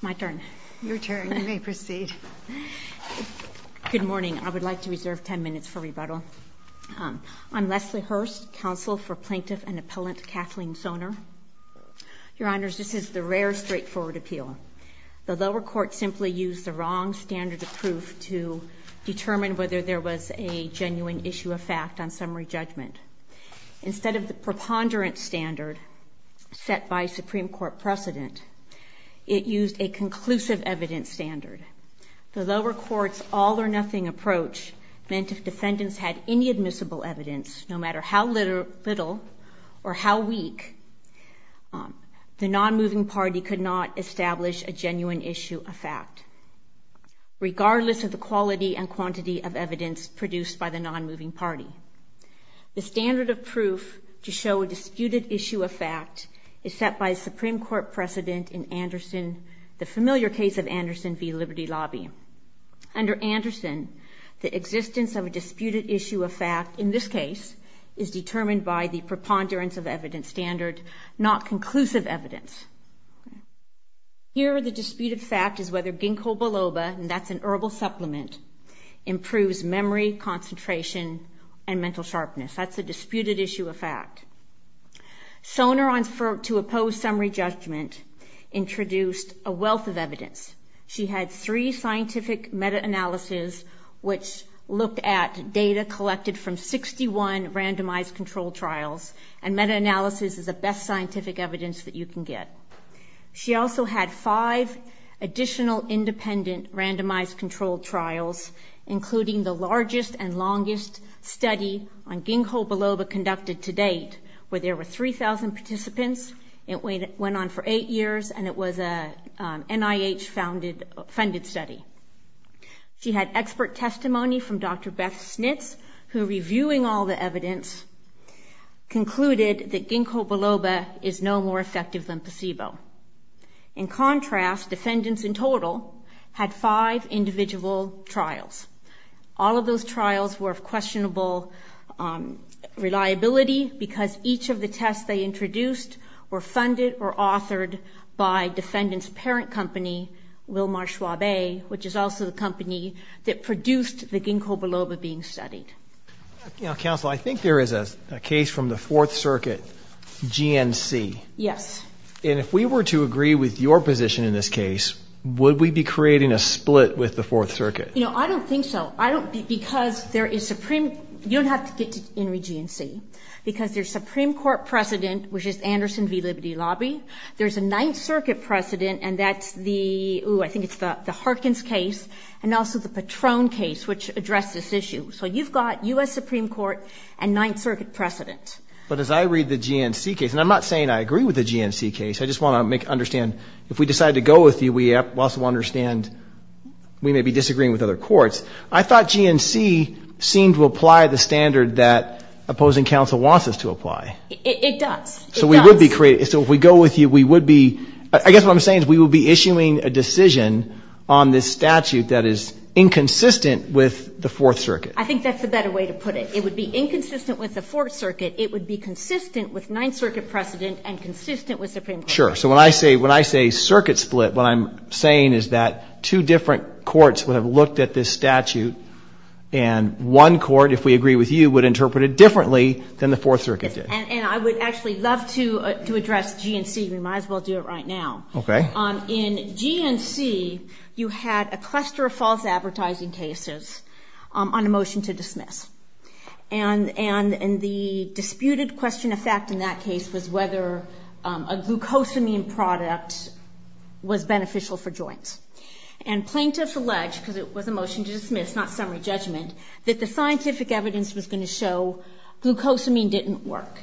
My turn. Your turn. You may proceed. Good morning. I would like to reserve 10 minutes for rebuttal. I'm Leslie Hurst, counsel for plaintiff and appellant Kathleen Sonner. Your honors, this is the rare straightforward appeal. The lower court simply used the wrong standard of proof to determine whether there was a genuine issue of fact on summary judgment. Instead of the preponderance standard set by Supreme Court precedent, it used a conclusive evidence standard. The lower court's all-or-nothing approach meant if defendants had any admissible evidence, no matter how little or how weak, the non-moving party could not establish a genuine issue of fact, regardless of the quality and quantity of evidence produced by the non-moving party. The standard of proof to show a disputed issue of fact is set by Supreme Court precedent in Anderson, the familiar case of Anderson v. Liberty Lobby. Under Anderson, the existence of a disputed issue of fact, in this case, is determined by the preponderance of evidence standard, not conclusive evidence. Here, the disputed fact is whether ginkgo biloba, and that's an herbal supplement, improves memory, concentration, and mental sharpness. That's a disputed issue of fact. Soner, to oppose summary judgment, introduced a wealth of evidence. She had three scientific meta-analyses, which looked at data collected from 61 randomized controlled trials, and meta-analysis is the best scientific evidence that you can get. She also had five additional independent randomized controlled trials, including the largest and longest study on ginkgo biloba conducted to date, where there were 3,000 participants. It went on for eight years, and it was a NIH-funded study. She had expert testimony from Dr. Beth Snits, who, reviewing all the evidence, concluded that ginkgo biloba is no more effective than placebo. In contrast, defendants in total had five individual trials. All of those trials were of questionable reliability, because each of the tests they introduced were funded or authored by defendant's parent company, Wilmar Schwabe, which is also the company that produced the ginkgo biloba being studied. You know, counsel, I think there is a case from the Fourth Circuit, GNC. Yes. And if we were to agree with your position in this case, would we be creating a split with the Fourth Circuit? You know, I don't think so. I don't, because there is Supreme, you don't have to get to Henry GNC, because there's Supreme Court precedent, which is Anderson v. Liberty Lobby. There's a Ninth Circuit precedent, and that's the, ooh, I think it's the Harkins case, and also the Patron case, which addressed this issue. So you've got U.S. Supreme Court and Ninth Circuit precedent. But as I read the GNC case, and I'm not saying I agree with the GNC case, I just want to make, understand, if we decide to go with you, we also understand we may be disagreeing with other courts. I thought GNC seemed to apply the standard that opposing counsel wants us to apply. It does. So we would be creating, so if we go with you, we would be, I guess what I'm saying is we would be issuing a decision on this statute that is inconsistent with the Fourth Circuit. I think that's the better way to put it. It would be inconsistent with the Fourth Circuit. It would be consistent with Ninth Circuit precedent and consistent with Supreme Court precedent. Sure. So when I say circuit split, what I'm saying is that two different courts would have looked at this statute, and one court, if we agree with you, would interpret it differently than the Fourth Circuit did. And I would actually love to address GNC. We might as well do it right now. Okay. In GNC, you had a cluster of false advertising cases on a motion to dismiss. And the disputed question of fact in that case was whether a glucosamine product was beneficial for joints. And plaintiffs alleged, because it was a motion to dismiss, not summary judgment, that the scientific evidence was going to show glucosamine didn't work.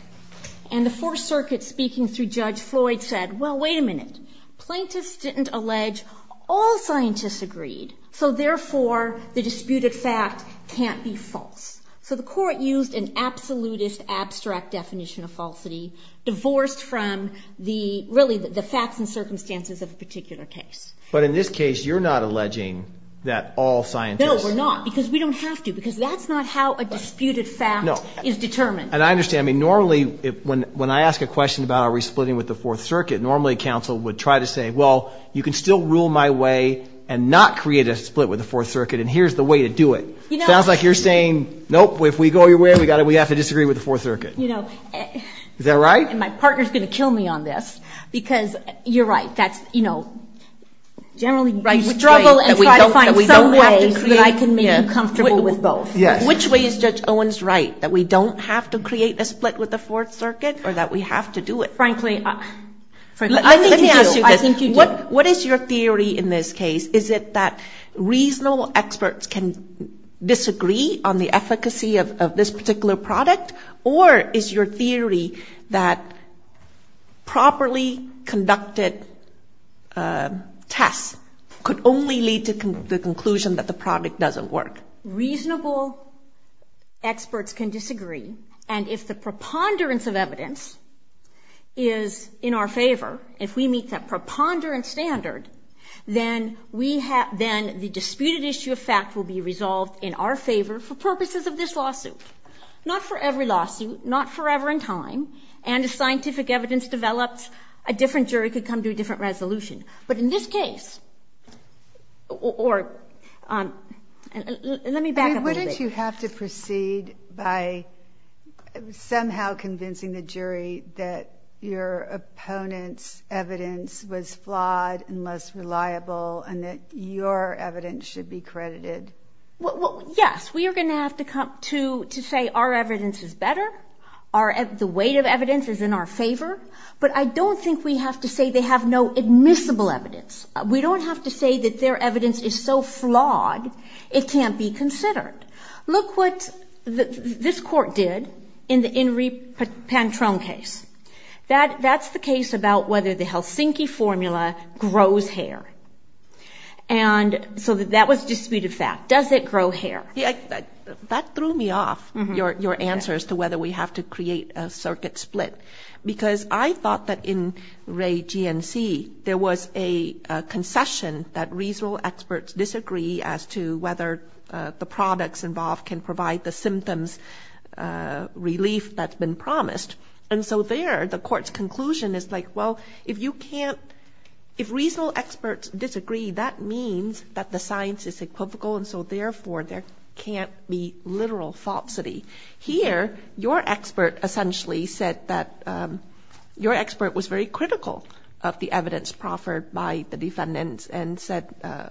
And the Fourth Circuit, speaking through Judge Floyd, said, well, wait a minute. Plaintiffs didn't allege. All scientists agreed. So therefore, the disputed fact can't be false. So the court used an absolutist, abstract definition of falsity, divorced from really the facts and circumstances of a particular case. But in this case, you're not alleging that all scientists... No, we're not. Because we don't have to. Because that's not how a disputed fact is determined. And I understand. Normally, when I ask a question about are we splitting with the Fourth Circuit, normally counsel would try to say, well, you can still rule my way and not create a split with the Fourth Circuit, and here's the way to do it. Sounds like you're saying, nope, if we go your way, we have to disagree with the Fourth Circuit. You know... Is that right? And my partner's going to kill me on this. Because you're right. That's, you know, generally... You struggle and try to find some way that I can make you comfortable with both. Which way is Judge Owens right? That we don't have to create a split with the Fourth Circuit or that we have to do it? Frankly, I think you do. What is your theory in this case? Is it that reasonable experts can disagree on the efficacy of this particular product? Or is your theory that properly conducted tests could only lead to the conclusion that the product doesn't work? Reasonable experts can disagree. And if the preponderance of evidence is in our favor, if we meet that preponderance standard, then the disputed issue of fact will be resolved in our favor for purposes of this lawsuit. Not for every lawsuit. Not forever in time. And if scientific evidence develops, a different jury could come to a different resolution. But in this case... Or... Let me back up a little bit. I mean, wouldn't you have to proceed by somehow convincing the jury that your opponent's evidence was flawed and less reliable and that your evidence should be credited? Well, yes. We are going to have to come to say our evidence is better. The weight of evidence is in our favor. But I don't think we have to say they have no admissible evidence. We don't have to say that their evidence is so flawed it can't be considered. Look what this court did in the Henri Pantrone case. That's the case about whether the Helsinki formula grows hair. And so that was a disputed fact. Does it grow hair? That threw me off, your answers to whether we have to create a circuit split. Because I thought that in Ray GNC, there was a concession that reasonable experts disagree as to whether the products involved can provide the symptoms relief that's been promised. And so there, the court's conclusion is like, well, if you can't, if reasonable experts disagree, that means that the science is equivocal. And so therefore, there can't be literal falsity. Here, your expert essentially said that your expert was very critical of the evidence proffered by the defendants and said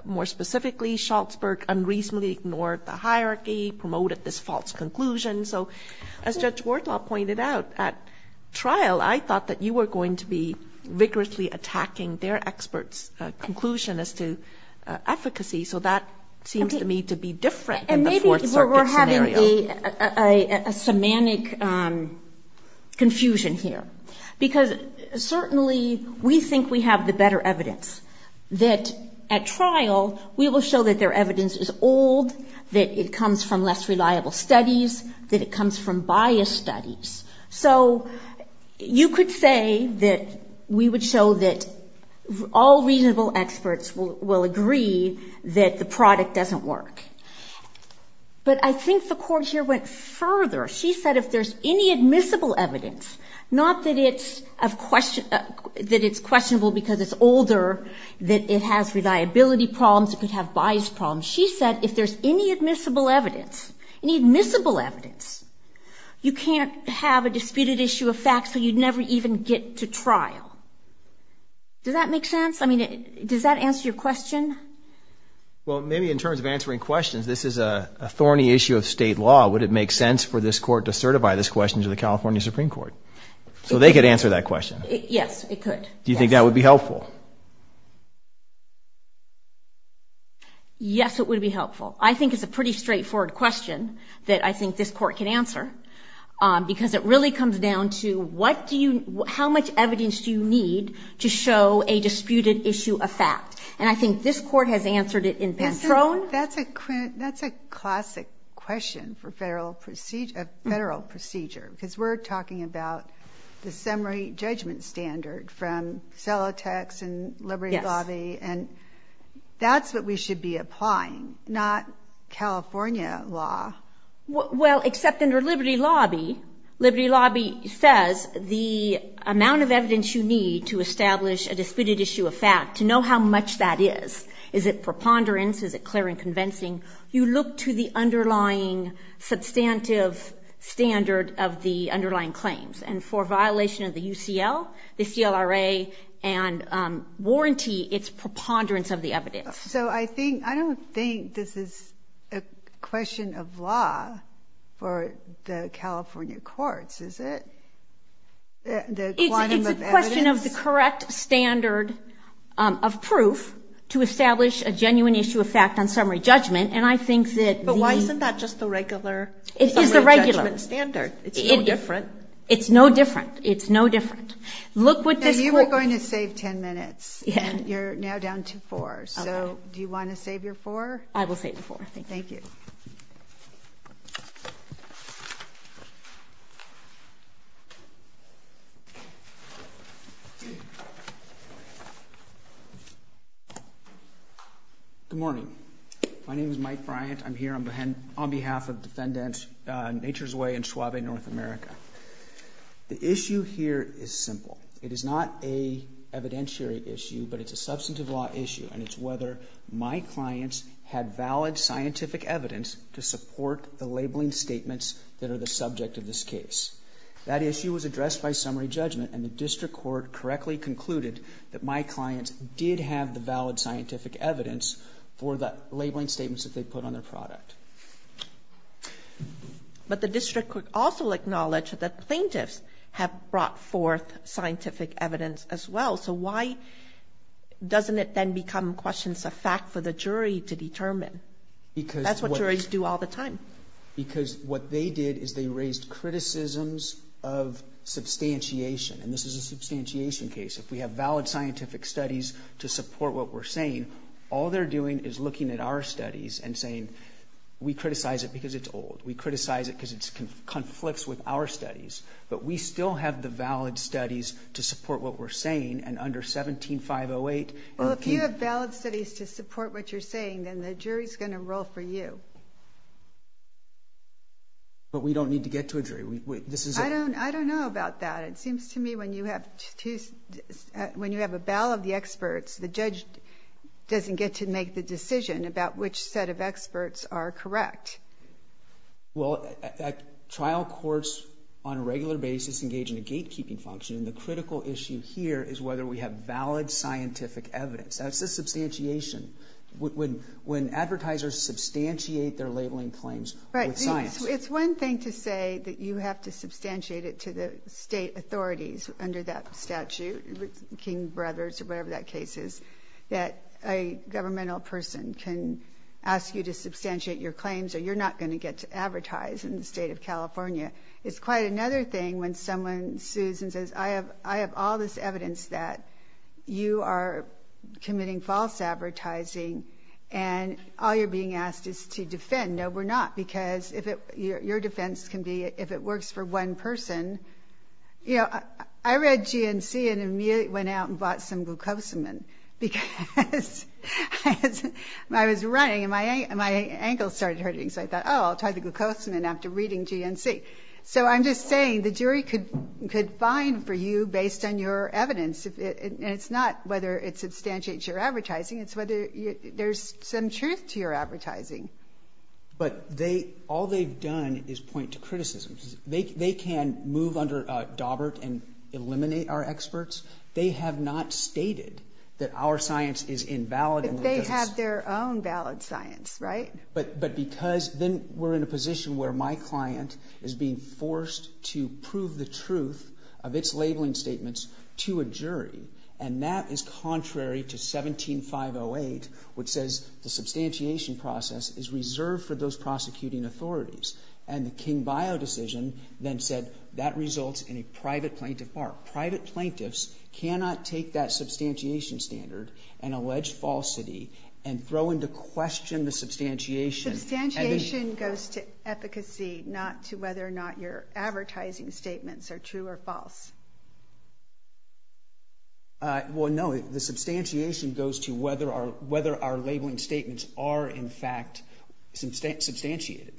more specifically, Schultzberg unreasonably ignored the hierarchy, promoted this false conclusion. So as Judge Worthal pointed out at trial, I thought that you were going to be vigorously attacking their expert's conclusion as to efficacy. So that seems to me to be different than the Fourth Circuit scenario. And maybe we're having a semantic confusion here. Because certainly we think we have the better evidence. That at trial, we will show that their evidence is old, that it comes from less reliable studies, that it comes from biased studies. So you could say that we would show that all reasonable experts will agree that the product doesn't work. But I think the court here went further. She said if there's any admissible evidence, not that it's questionable because it's older, that it has reliability problems, it could have bias problems. She said if there's any admissible evidence, any admissible evidence, you can't have a disputed issue of fact so you'd never even get to trial. Does that make sense? I mean, does that answer your question? Well, maybe in terms of answering questions, this is a thorny issue of state law. Would it make sense for this court to certify this question to the California Supreme Court so they could answer that question? Yes, it could. Do you think that would be helpful? Yes, it would be helpful. I think it's a pretty straightforward question that I think this court can answer because it really comes down to how much evidence do you need to show a disputed issue of fact? And I think this court has answered it in Pantrone. That's a classic question for federal procedure because we're talking about the summary judgment standard from Celotex and Liberty Lobby, and that's what we should be applying, not California law. Well, except under Liberty Lobby, Liberty Lobby says the amount of evidence you need to establish a disputed issue of fact, to know how much that is. Is it preponderance? Is it clear and convincing? You look to the underlying substantive standard of the underlying claims. And for violation of the UCL, the CLRA, and warranty, it's preponderance of the evidence. So I don't think this is a question of law for the California courts, is it? It's a question of the correct standard of proof to establish a disputed issue of fact. But why isn't that just the regular summary judgment standard? It's no different. It's no different. It's no different. You were going to save ten minutes, and you're now down to four. So do you want to save your four? I will save the four. Thank you. Good morning. My name is Mike Bryant. I'm here on behalf of defendants, Nature's Way and Suave North America. The issue here is simple. It is not an evidentiary issue, but it's a substantive law issue, and it's whether my clients had valid scientific evidence to support the labeling statements that are the subject of this case. That issue was addressed by summary judgment, and the district court correctly concluded that my clients did have the valid scientific evidence for the labeling statements that they put on their product. But the district court also acknowledged that plaintiffs have brought forth scientific evidence as well. So why doesn't it then become questions of fact for the jury to determine? That's what juries do all the time. Because what they did is they raised criticisms of substantiation. And this is a substantiation case. If we have valid scientific studies to support what we're saying, all they're doing is looking at our studies and saying, we criticize it because it's old. We criticize it because it conflicts with our studies. But we still have the valid studies to support what we're saying, and under 17-508. Well, if you have valid studies to support what you're saying, then the jury's going to roll for you. But we don't need to get to a jury. I don't know about that. It seems to me when you have a ballot of the experts, the judge doesn't get to make the decision about which set of experts are correct. Well, trial courts on a regular basis engage in a gatekeeping function. And the critical issue here is whether we have valid scientific evidence. That's a substantiation. When advertisers substantiate their labeling claims with science. Right. It's one thing to say that you have to substantiate it to the state authorities under that statute, King Brothers or whatever that case is, that a governmental person can ask you to substantiate your claims or you're not going to get to advertise in the state of California. It's quite another thing when someone sues and says, I have all this evidence that you are committing false advertising and all you're being asked is to defend. No, we're not. Because your defense can be if it works for one person. You know, I read GNC and immediately went out and bought some after reading GNC. So I'm just saying the jury could find for you based on your evidence. And it's not whether it substantiates your advertising, it's whether there's some truth to your advertising. But all they've done is point to criticism. They can move under a dauber and eliminate our experts. They have not stated that our science is invalid. But they have their own valid science, right? But because then we're in a position where my client is being forced to prove the truth of its labeling statements to a jury. And that is contrary to 17508, which says the substantiation process is reserved for those prosecuting authorities. And the King-Bio decision then said that results in a private plaintiff bar. Private plaintiffs cannot take that substantiation standard and allege falsity and throw into question the substantiation. Substantiation goes to efficacy, not to whether or not your advertising statements are true or false. Well, no, the substantiation goes to whether our labeling statements are, in fact, substantiated.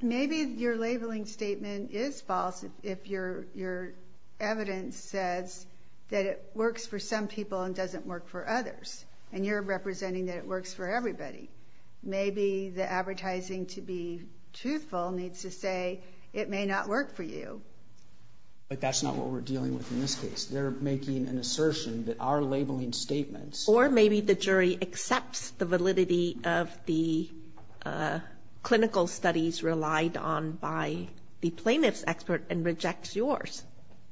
Maybe your labeling statement is false if your evidence says that it works for some people and doesn't work for others. And you're representing that it works for everybody. Maybe the advertising to be truthful needs to say it may not work for you. But that's not what we're dealing with in this case. They're making an assertion that our labeling statements. Or maybe the jury accepts the validity of the clinical studies relied on by the plaintiff's expert and rejects yours.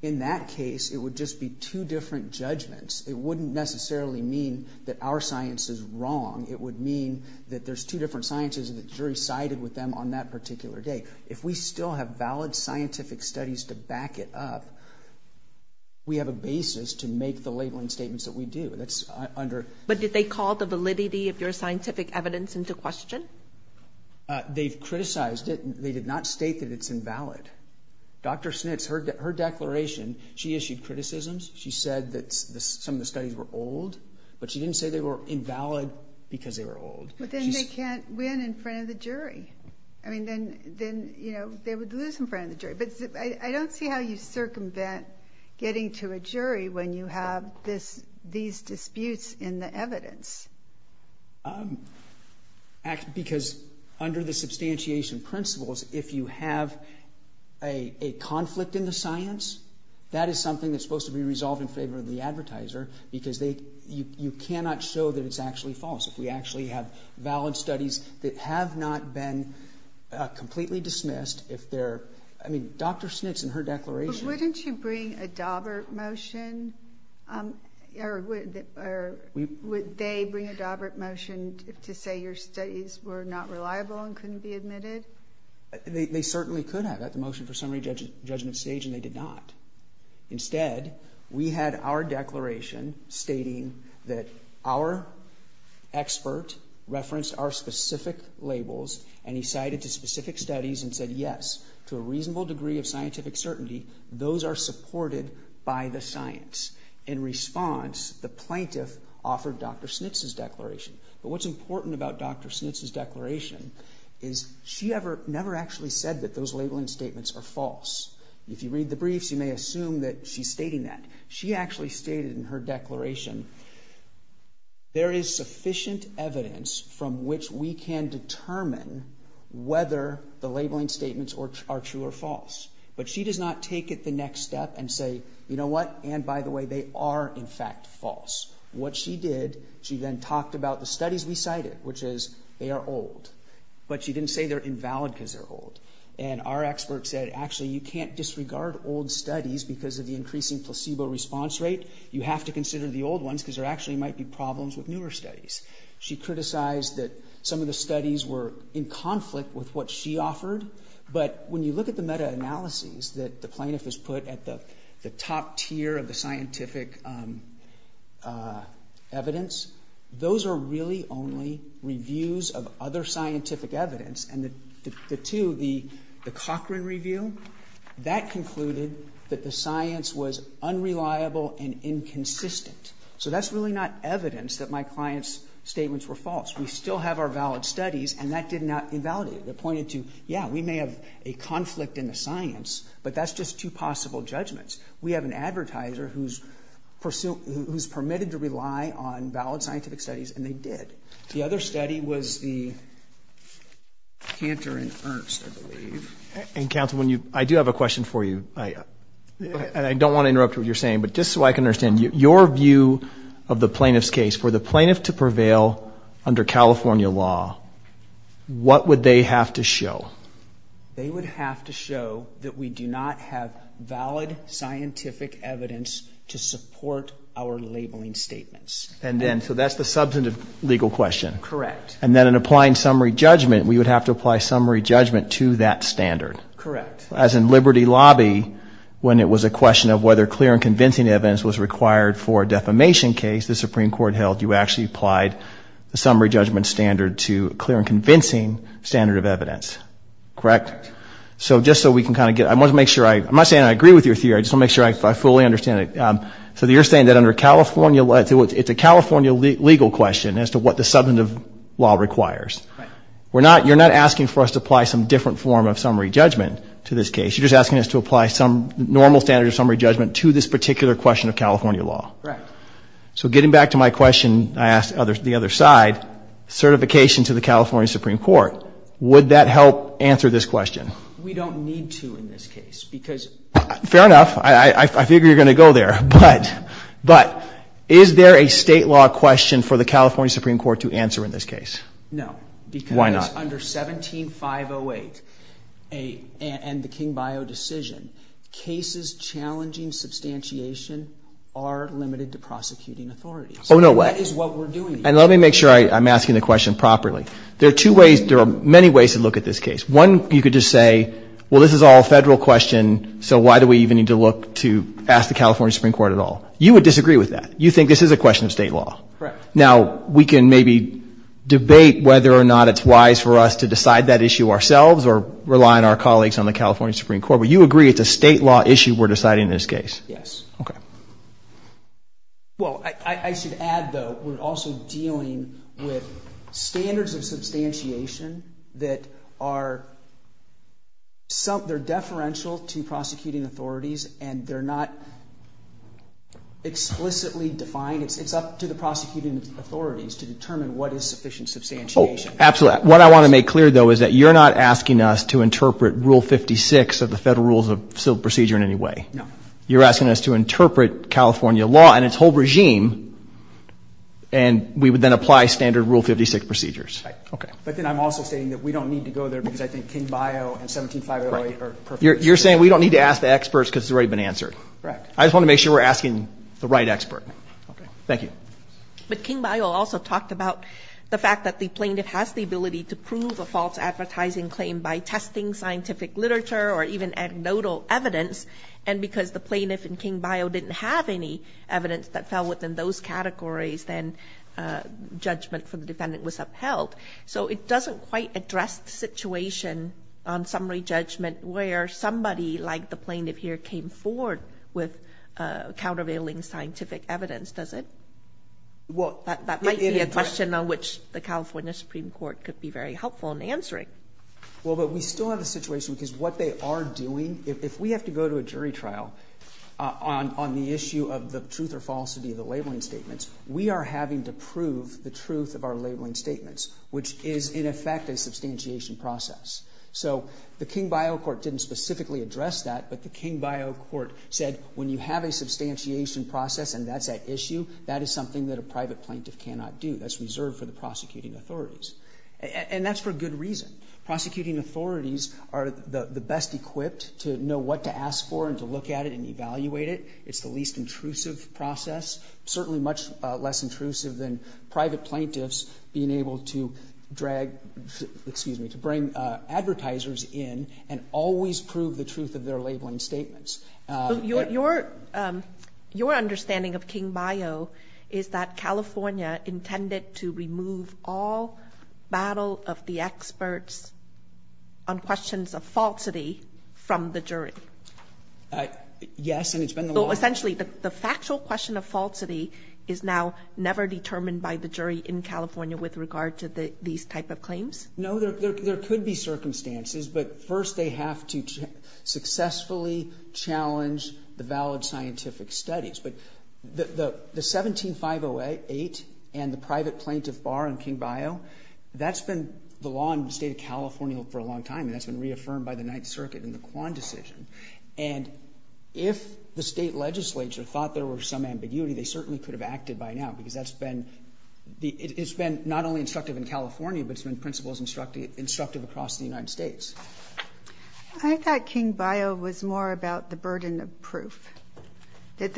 In that case, it would just be two different judgments. It wouldn't necessarily mean that our science is wrong. It would mean that there's two different sciences and the jury sided with them on that particular day. If we still have valid scientific studies to back it up, we have a basis to make the labeling statements that we do. But did they call the validity of your scientific evidence into question? They've criticized it. They did not state that it's invalid. Dr. Schnitz, her declaration, she issued criticisms. She said that some of the studies were old. But she didn't say they were invalid because they were old. But then they can't win in front of the jury. Then they would lose in front of the jury. But I don't see how you circumvent getting to a jury when you have these disputes in the evidence. Because under the substantiation principles, if you have a conflict in the science, that is something that's supposed to be resolved in favor of the advertiser because you cannot show that it's actually false. If we actually have valid studies that have not been completely dismissed, if they're – I mean, Dr. Schnitz and her declaration – But wouldn't you bring a Daubert motion? Or would they bring a Daubert motion to say your studies were not reliable and couldn't be admitted? They certainly could have at the motion for summary judgment stage, and they did not. Instead, we had our declaration stating that our expert referenced our specific labels and he cited to specific studies and said, yes, to a reasonable degree of scientific certainty, those are supported by the science. In response, the plaintiff offered Dr. Schnitz's declaration. But what's important about Dr. Schnitz's declaration is she never actually said that those labeling statements are false. If you read the briefs, you may assume that she's stating that. She actually stated in her declaration, there is sufficient evidence from which we can determine whether the labeling statements are true or false. But she does not take it the next step and say, you know what? And by the way, they are, in fact, false. What she did, she then talked about the studies we cited, which is they are old. But she didn't say they're invalid because they're old. And our expert said, actually, you can't disregard old studies because of the increasing placebo response rate. You have to consider the old ones because there actually might be problems with newer studies. She criticized that some of the studies were in conflict with what she offered. But when you look at the meta-analyses that the plaintiff has put at the top tier of the scientific evidence, those are really only reviews of other scientific evidence. And the two, the Cochran review, that concluded that the science was unreliable and inconsistent. So that's really not evidence that my client's statements were false. We still have our valid studies, and that did not invalidate it. It pointed to, yeah, we may have a conflict in the science, but that's just two possible judgments. We have an advertiser who's permitted to rely on valid scientific studies, and they did. The other study was the Cantor and Ernst, I believe. And, Counsel, I do have a question for you. And I don't want to interrupt what you're saying, but just so I can understand, your view of the plaintiff's case, for the plaintiff to prevail under California law, what would they have to show? They would have to show that we do not have valid scientific evidence to support our labeling statements. And then, so that's the substantive legal question. Correct. And then in applying summary judgment, we would have to apply summary judgment to that standard. Correct. As in Liberty Lobby, when it was a question of whether clear and convincing evidence was required for a defamation case, the Supreme Court held you actually applied the summary judgment standard to a clear and convincing standard of evidence. Correct? Correct. So just so we can kind of get, I want to make sure, I'm not saying I agree with your theory, I just want to make sure I fully understand it. So you're saying that under California, it's a California legal question as to what the substantive law requires. Right. You're not asking for us to apply some different form of summary judgment to this case. You're just asking us to apply some normal standard of summary judgment to this particular question of California law. Correct. So getting back to my question, I asked the other side, certification to the California Supreme Court, would that help answer this question? We don't need to in this case. Fair enough. I figure you're going to go there. But is there a state law question for the California Supreme Court to answer in this case? No. Why not? Because under 17-508 and the King-Bio decision, cases challenging substantiation are limited to prosecuting authorities. Oh, no way. That is what we're doing. And let me make sure I'm asking the question properly. There are two ways. There are many ways to look at this case. One, you could just say, well, this is all a federal question, so why do we even need to look to ask the California Supreme Court at all? You would disagree with that. You think this is a question of state law. Correct. Now, we can maybe debate whether or not it's wise for us to decide that issue ourselves or rely on our colleagues on the California Supreme Court. But you agree it's a state law issue we're deciding in this case? Yes. Okay. Well, I should add, though, we're also dealing with standards of substantiation that are deferential to prosecuting authorities, and they're not explicitly defined. It's up to the prosecuting authorities to determine what is sufficient substantiation. Absolutely. What I want to make clear, though, is that you're not asking us to interpret Rule 56 of the Federal Rules of Procedure in any way. No. You're asking us to interpret California law and its whole regime, and we would then apply standard Rule 56 procedures. Right. Okay. But then I'm also saying that we don't need to go there because I think King-Bio and 17-508 are perfect. You're saying we don't need to ask the experts because they've already been answered. Correct. I just want to make sure we're asking the right expert. Okay. Thank you. But King-Bio also talked about the fact that the plaintiff has the ability to prove a false advertising claim by testing scientific literature or even anecdotal evidence, and because the plaintiff in King-Bio didn't have any evidence that fell within those categories, then judgment from the defendant was upheld. So it doesn't quite address the situation on summary judgment where somebody like the plaintiff here came forward with countervailing scientific evidence, does it? Well, it addresses – That might be a question on which the California Supreme Court could be very helpful in answering. Well, but we still have a situation because what they are doing – if we have to go to a jury trial on the issue of the truth or falsity of the labeling statements, we are having to prove the truth of our labeling statements, which is, in effect, a substantiation process. So the King-Bio court didn't specifically address that, but the King-Bio court said when you have a substantiation process and that's at issue, that is something that a private plaintiff cannot do. That's reserved for the prosecuting authorities. And that's for good reason. Prosecuting authorities are the best equipped to know what to ask for and to look at it and evaluate it. It's the least intrusive process, certainly much less intrusive than private plaintiffs being able to drag – excuse me – to bring advertisers in and always prove the truth of their labeling statements. Your understanding of King-Bio is that California intended to remove all battle of the experts on questions of falsity from the jury. Yes, and it's been the last – So essentially the factual question of falsity is now never determined by the jury No, there could be circumstances, but first they have to successfully challenge the valid scientific studies. But the 17-508 and the private plaintiff bar in King-Bio, that's been the law in the state of California for a long time, and that's been reaffirmed by the Ninth Circuit in the Quan decision. And if the state legislature thought there were some ambiguity, they certainly could have acted by now because that's been – it's been not only instructive in California, but it's been, in principle, instructive across the United States. I thought King-Bio was more about the burden of proof, that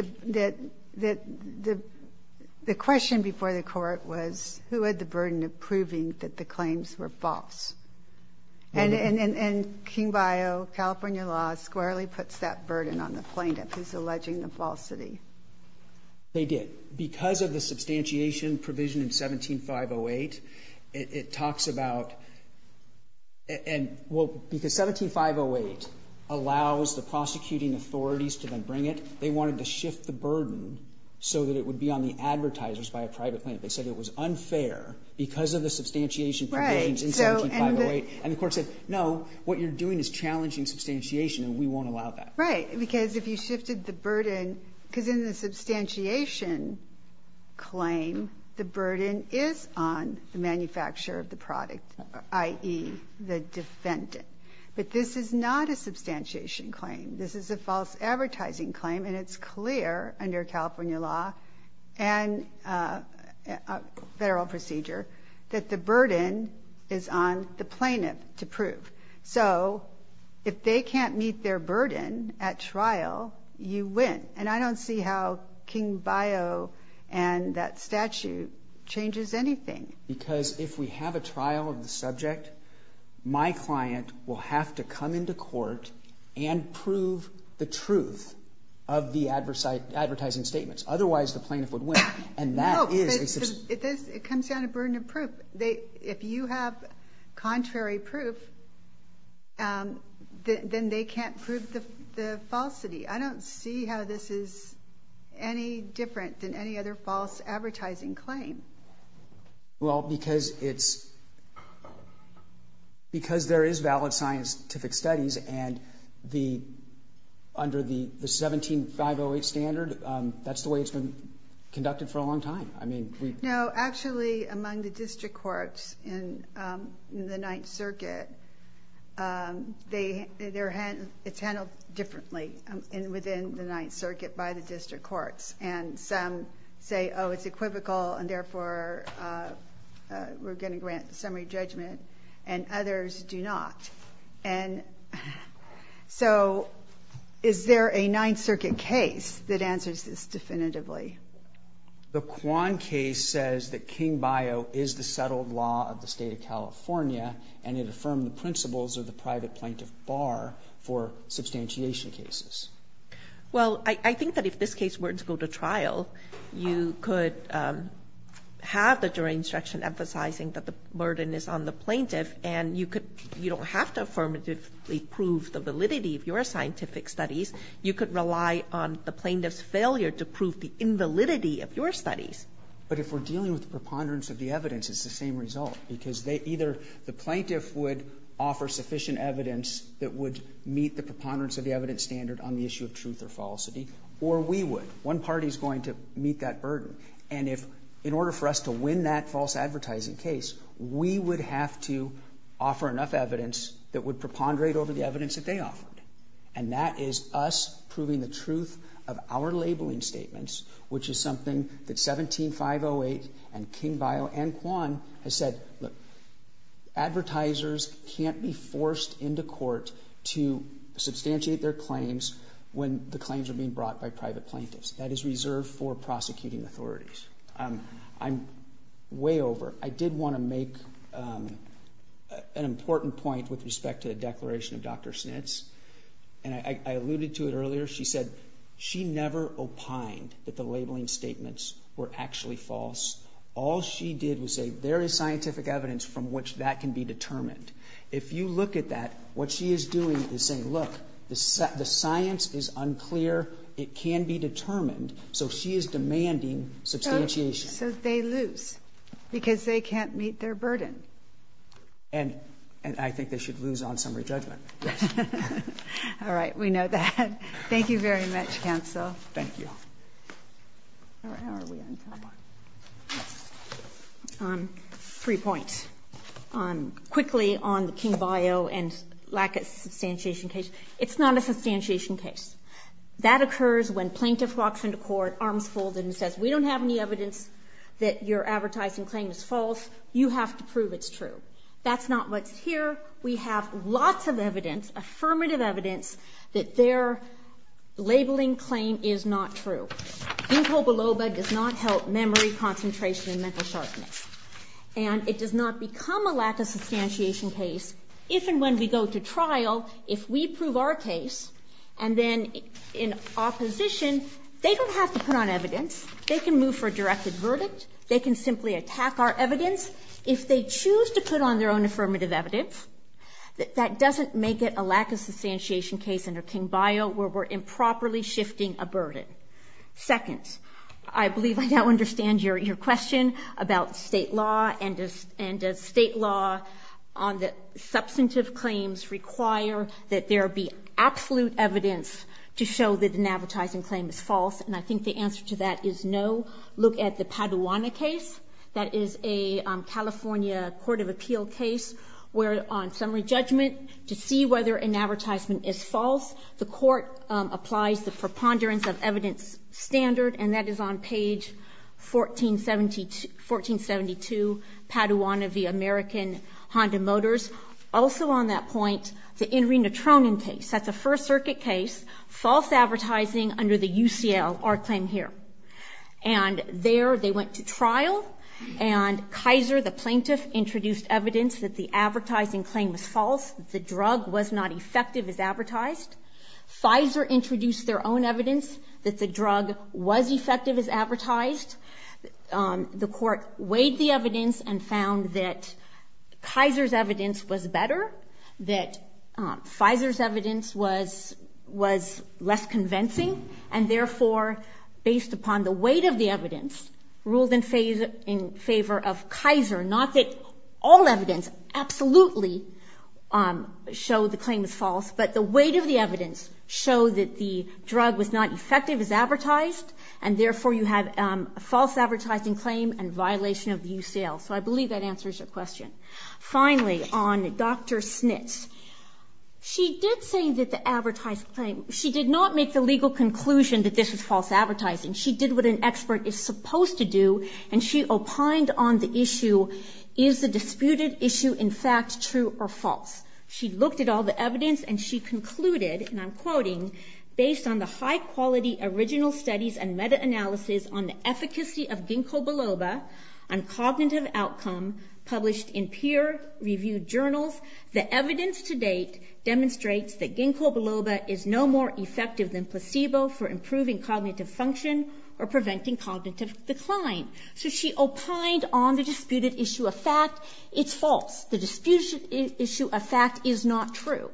the question before the court was who had the burden of proving that the claims were false. And King-Bio, California law, squarely puts that burden on the plaintiff who's alleging the falsity. They did. Because of the substantiation provision in 17-508, it talks about – well, because 17-508 allows the prosecuting authorities to then bring it, they wanted to shift the burden so that it would be on the advertisers by a private plaintiff. They said it was unfair because of the substantiation provisions in 17-508, and the court said, no, what you're doing is challenging substantiation and we won't allow that. Right. Because if you shifted the burden – because in the substantiation claim, the burden is on the manufacturer of the product, i.e. the defendant. But this is not a substantiation claim. This is a false advertising claim, and it's clear under California law and federal procedure that the burden is on the plaintiff to prove. So if they can't meet their burden at trial, you win. And I don't see how King-Bio and that statute changes anything. Because if we have a trial of the subject, my client will have to come into court and prove the truth of the advertising statements. Otherwise, the plaintiff would win, and that is a – No, it comes down to burden of proof. If you have contrary proof, then they can't prove the falsity. I don't see how this is any different than any other false advertising claim. Well, because it's – because there is valid scientific studies and under the 17-508 standard, that's the way it's been conducted for a long time. No, actually, among the district courts in the Ninth Circuit, it's handled differently within the Ninth Circuit by the district courts. And some say, oh, it's equivocal, and therefore we're going to grant summary judgment, and others do not. And so is there a Ninth Circuit case that answers this definitively? The Quan case says that King-Bio is the settled law of the state of California, and it affirmed the principles of the private plaintiff bar for substantiation cases. Well, I think that if this case were to go to trial, you could have the jury instruction emphasizing that the burden is on the plaintiff, and you could – you don't have to affirmatively prove the validity of your scientific studies. You could rely on the plaintiff's failure to prove the invalidity of your studies. But if we're dealing with the preponderance of the evidence, it's the same result, because they – either the plaintiff would offer sufficient evidence that would meet the preponderance of the evidence standard on the issue of truth or falsity, or we would. One party is going to meet that burden. And if – in order for us to win that false advertising case, we would have to offer enough evidence that would preponderate over the evidence that they offered. And that is us proving the truth of our labeling statements, which is something that 17-508 and King-Bio and Quan has said, look, advertisers can't be forced into court to substantiate their claims when the claims are being brought by private plaintiffs. That is reserved for prosecuting authorities. I'm way over. I did want to make an important point with respect to the declaration of Dr. Snitz. And I alluded to it earlier. She said she never opined that the labeling statements were actually false. All she did was say there is scientific evidence from which that can be determined. If you look at that, what she is doing is saying, look, the science is unclear. It can be determined. So she is demanding substantiation. So they lose because they can't meet their burden. And I think they should lose on summary judgment. Yes. All right. We know that. Thank you very much, counsel. Thank you. Three points. Quickly on the King-Bio and lack of substantiation case. It's not a substantiation case. That occurs when plaintiff walks into court, arms folded, and says, we don't have any evidence that your advertising claim is false. You have to prove it's true. That's not what's here. We have lots of evidence, affirmative evidence, that their labeling claim is not true. Incobaloba does not help memory, concentration, and mental sharpness. And it does not become a lack of substantiation case if and when we go to trial, if we prove our case and then in opposition, they don't have to put on evidence. They can move for a directed verdict. They can simply attack our evidence. If they choose to put on their own affirmative evidence, that doesn't make it a lack of substantiation case under King-Bio where we're improperly shifting a burden. Second, I believe I now understand your question about state law and does state law on the substantive claims require that there be absolute evidence to show that an advertising claim is false. And I think the answer to that is no. Look at the Paduana case. That is a California court of appeal case where on summary judgment, to see whether an advertisement is false, the court applies the preponderance of evidence standard, and that is on page 1472, Paduana v. American Honda Motors. Also on that point, the Indrina Tronin case. That's a First Circuit case, false advertising under the UCL, our claim here. And there they went to trial and Kaiser, the plaintiff, introduced evidence that the advertising claim was false, the drug was not effective as advertised. Pfizer introduced their own evidence that the drug was effective as advertised. The court weighed the evidence and found that Kaiser's evidence was better, that Pfizer's evidence was less convincing, and therefore based upon the weight of the evidence, ruled in favor of Kaiser, not that all evidence absolutely showed the claim was false, but the weight of the evidence showed that the drug was not effective as advertised, and therefore you have a false advertising claim and violation of the UCL. So I believe that answers your question. Finally, on Dr. Schnitt. She did say that the advertised claim, she did not make the legal conclusion that this was false advertising. She did what an expert is supposed to do, and she opined on the issue, is the disputed issue in fact true or false? She looked at all the evidence and she concluded, and I'm quoting, based on the high-quality original studies and meta-analysis on the efficacy of ginkgo biloba on cognitive outcome published in peer-reviewed journals, the evidence to date demonstrates that ginkgo biloba is no more effective than placebo for improving cognitive function or preventing cognitive decline. So she opined on the disputed issue of fact, it's false. The disputed issue of fact is not true.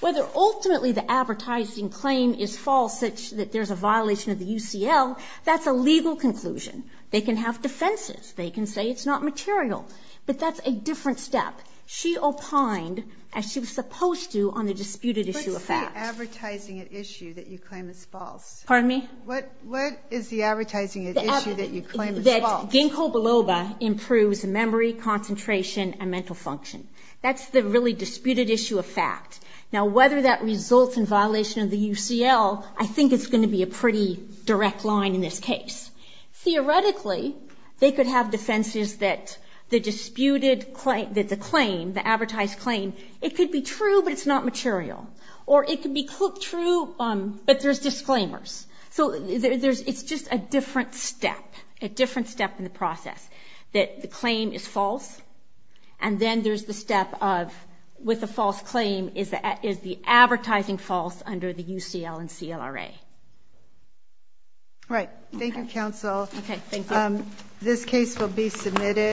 Whether ultimately the advertising claim is false, that there's a violation of the UCL, that's a legal conclusion. They can have defenses. They can say it's not material, but that's a different step. She opined, as she was supposed to, on the disputed issue of fact. What is the advertising at issue that you claim is false? Pardon me? What is the advertising at issue that you claim is false? Ginkgo biloba improves memory, concentration, and mental function. That's the really disputed issue of fact. Now whether that results in violation of the UCL, I think it's going to be a pretty direct line in this case. Theoretically, they could have defenses that the disputed claim, that the claim, the advertised claim, it could be true, but it's not material. Or it could be true, but there's disclaimers. It's just a different step, a different step in the process. That the claim is false, and then there's the step of, with the false claim, is the advertising false under the UCL and CLRA. Right. Thank you, counsel. This case will be submitted.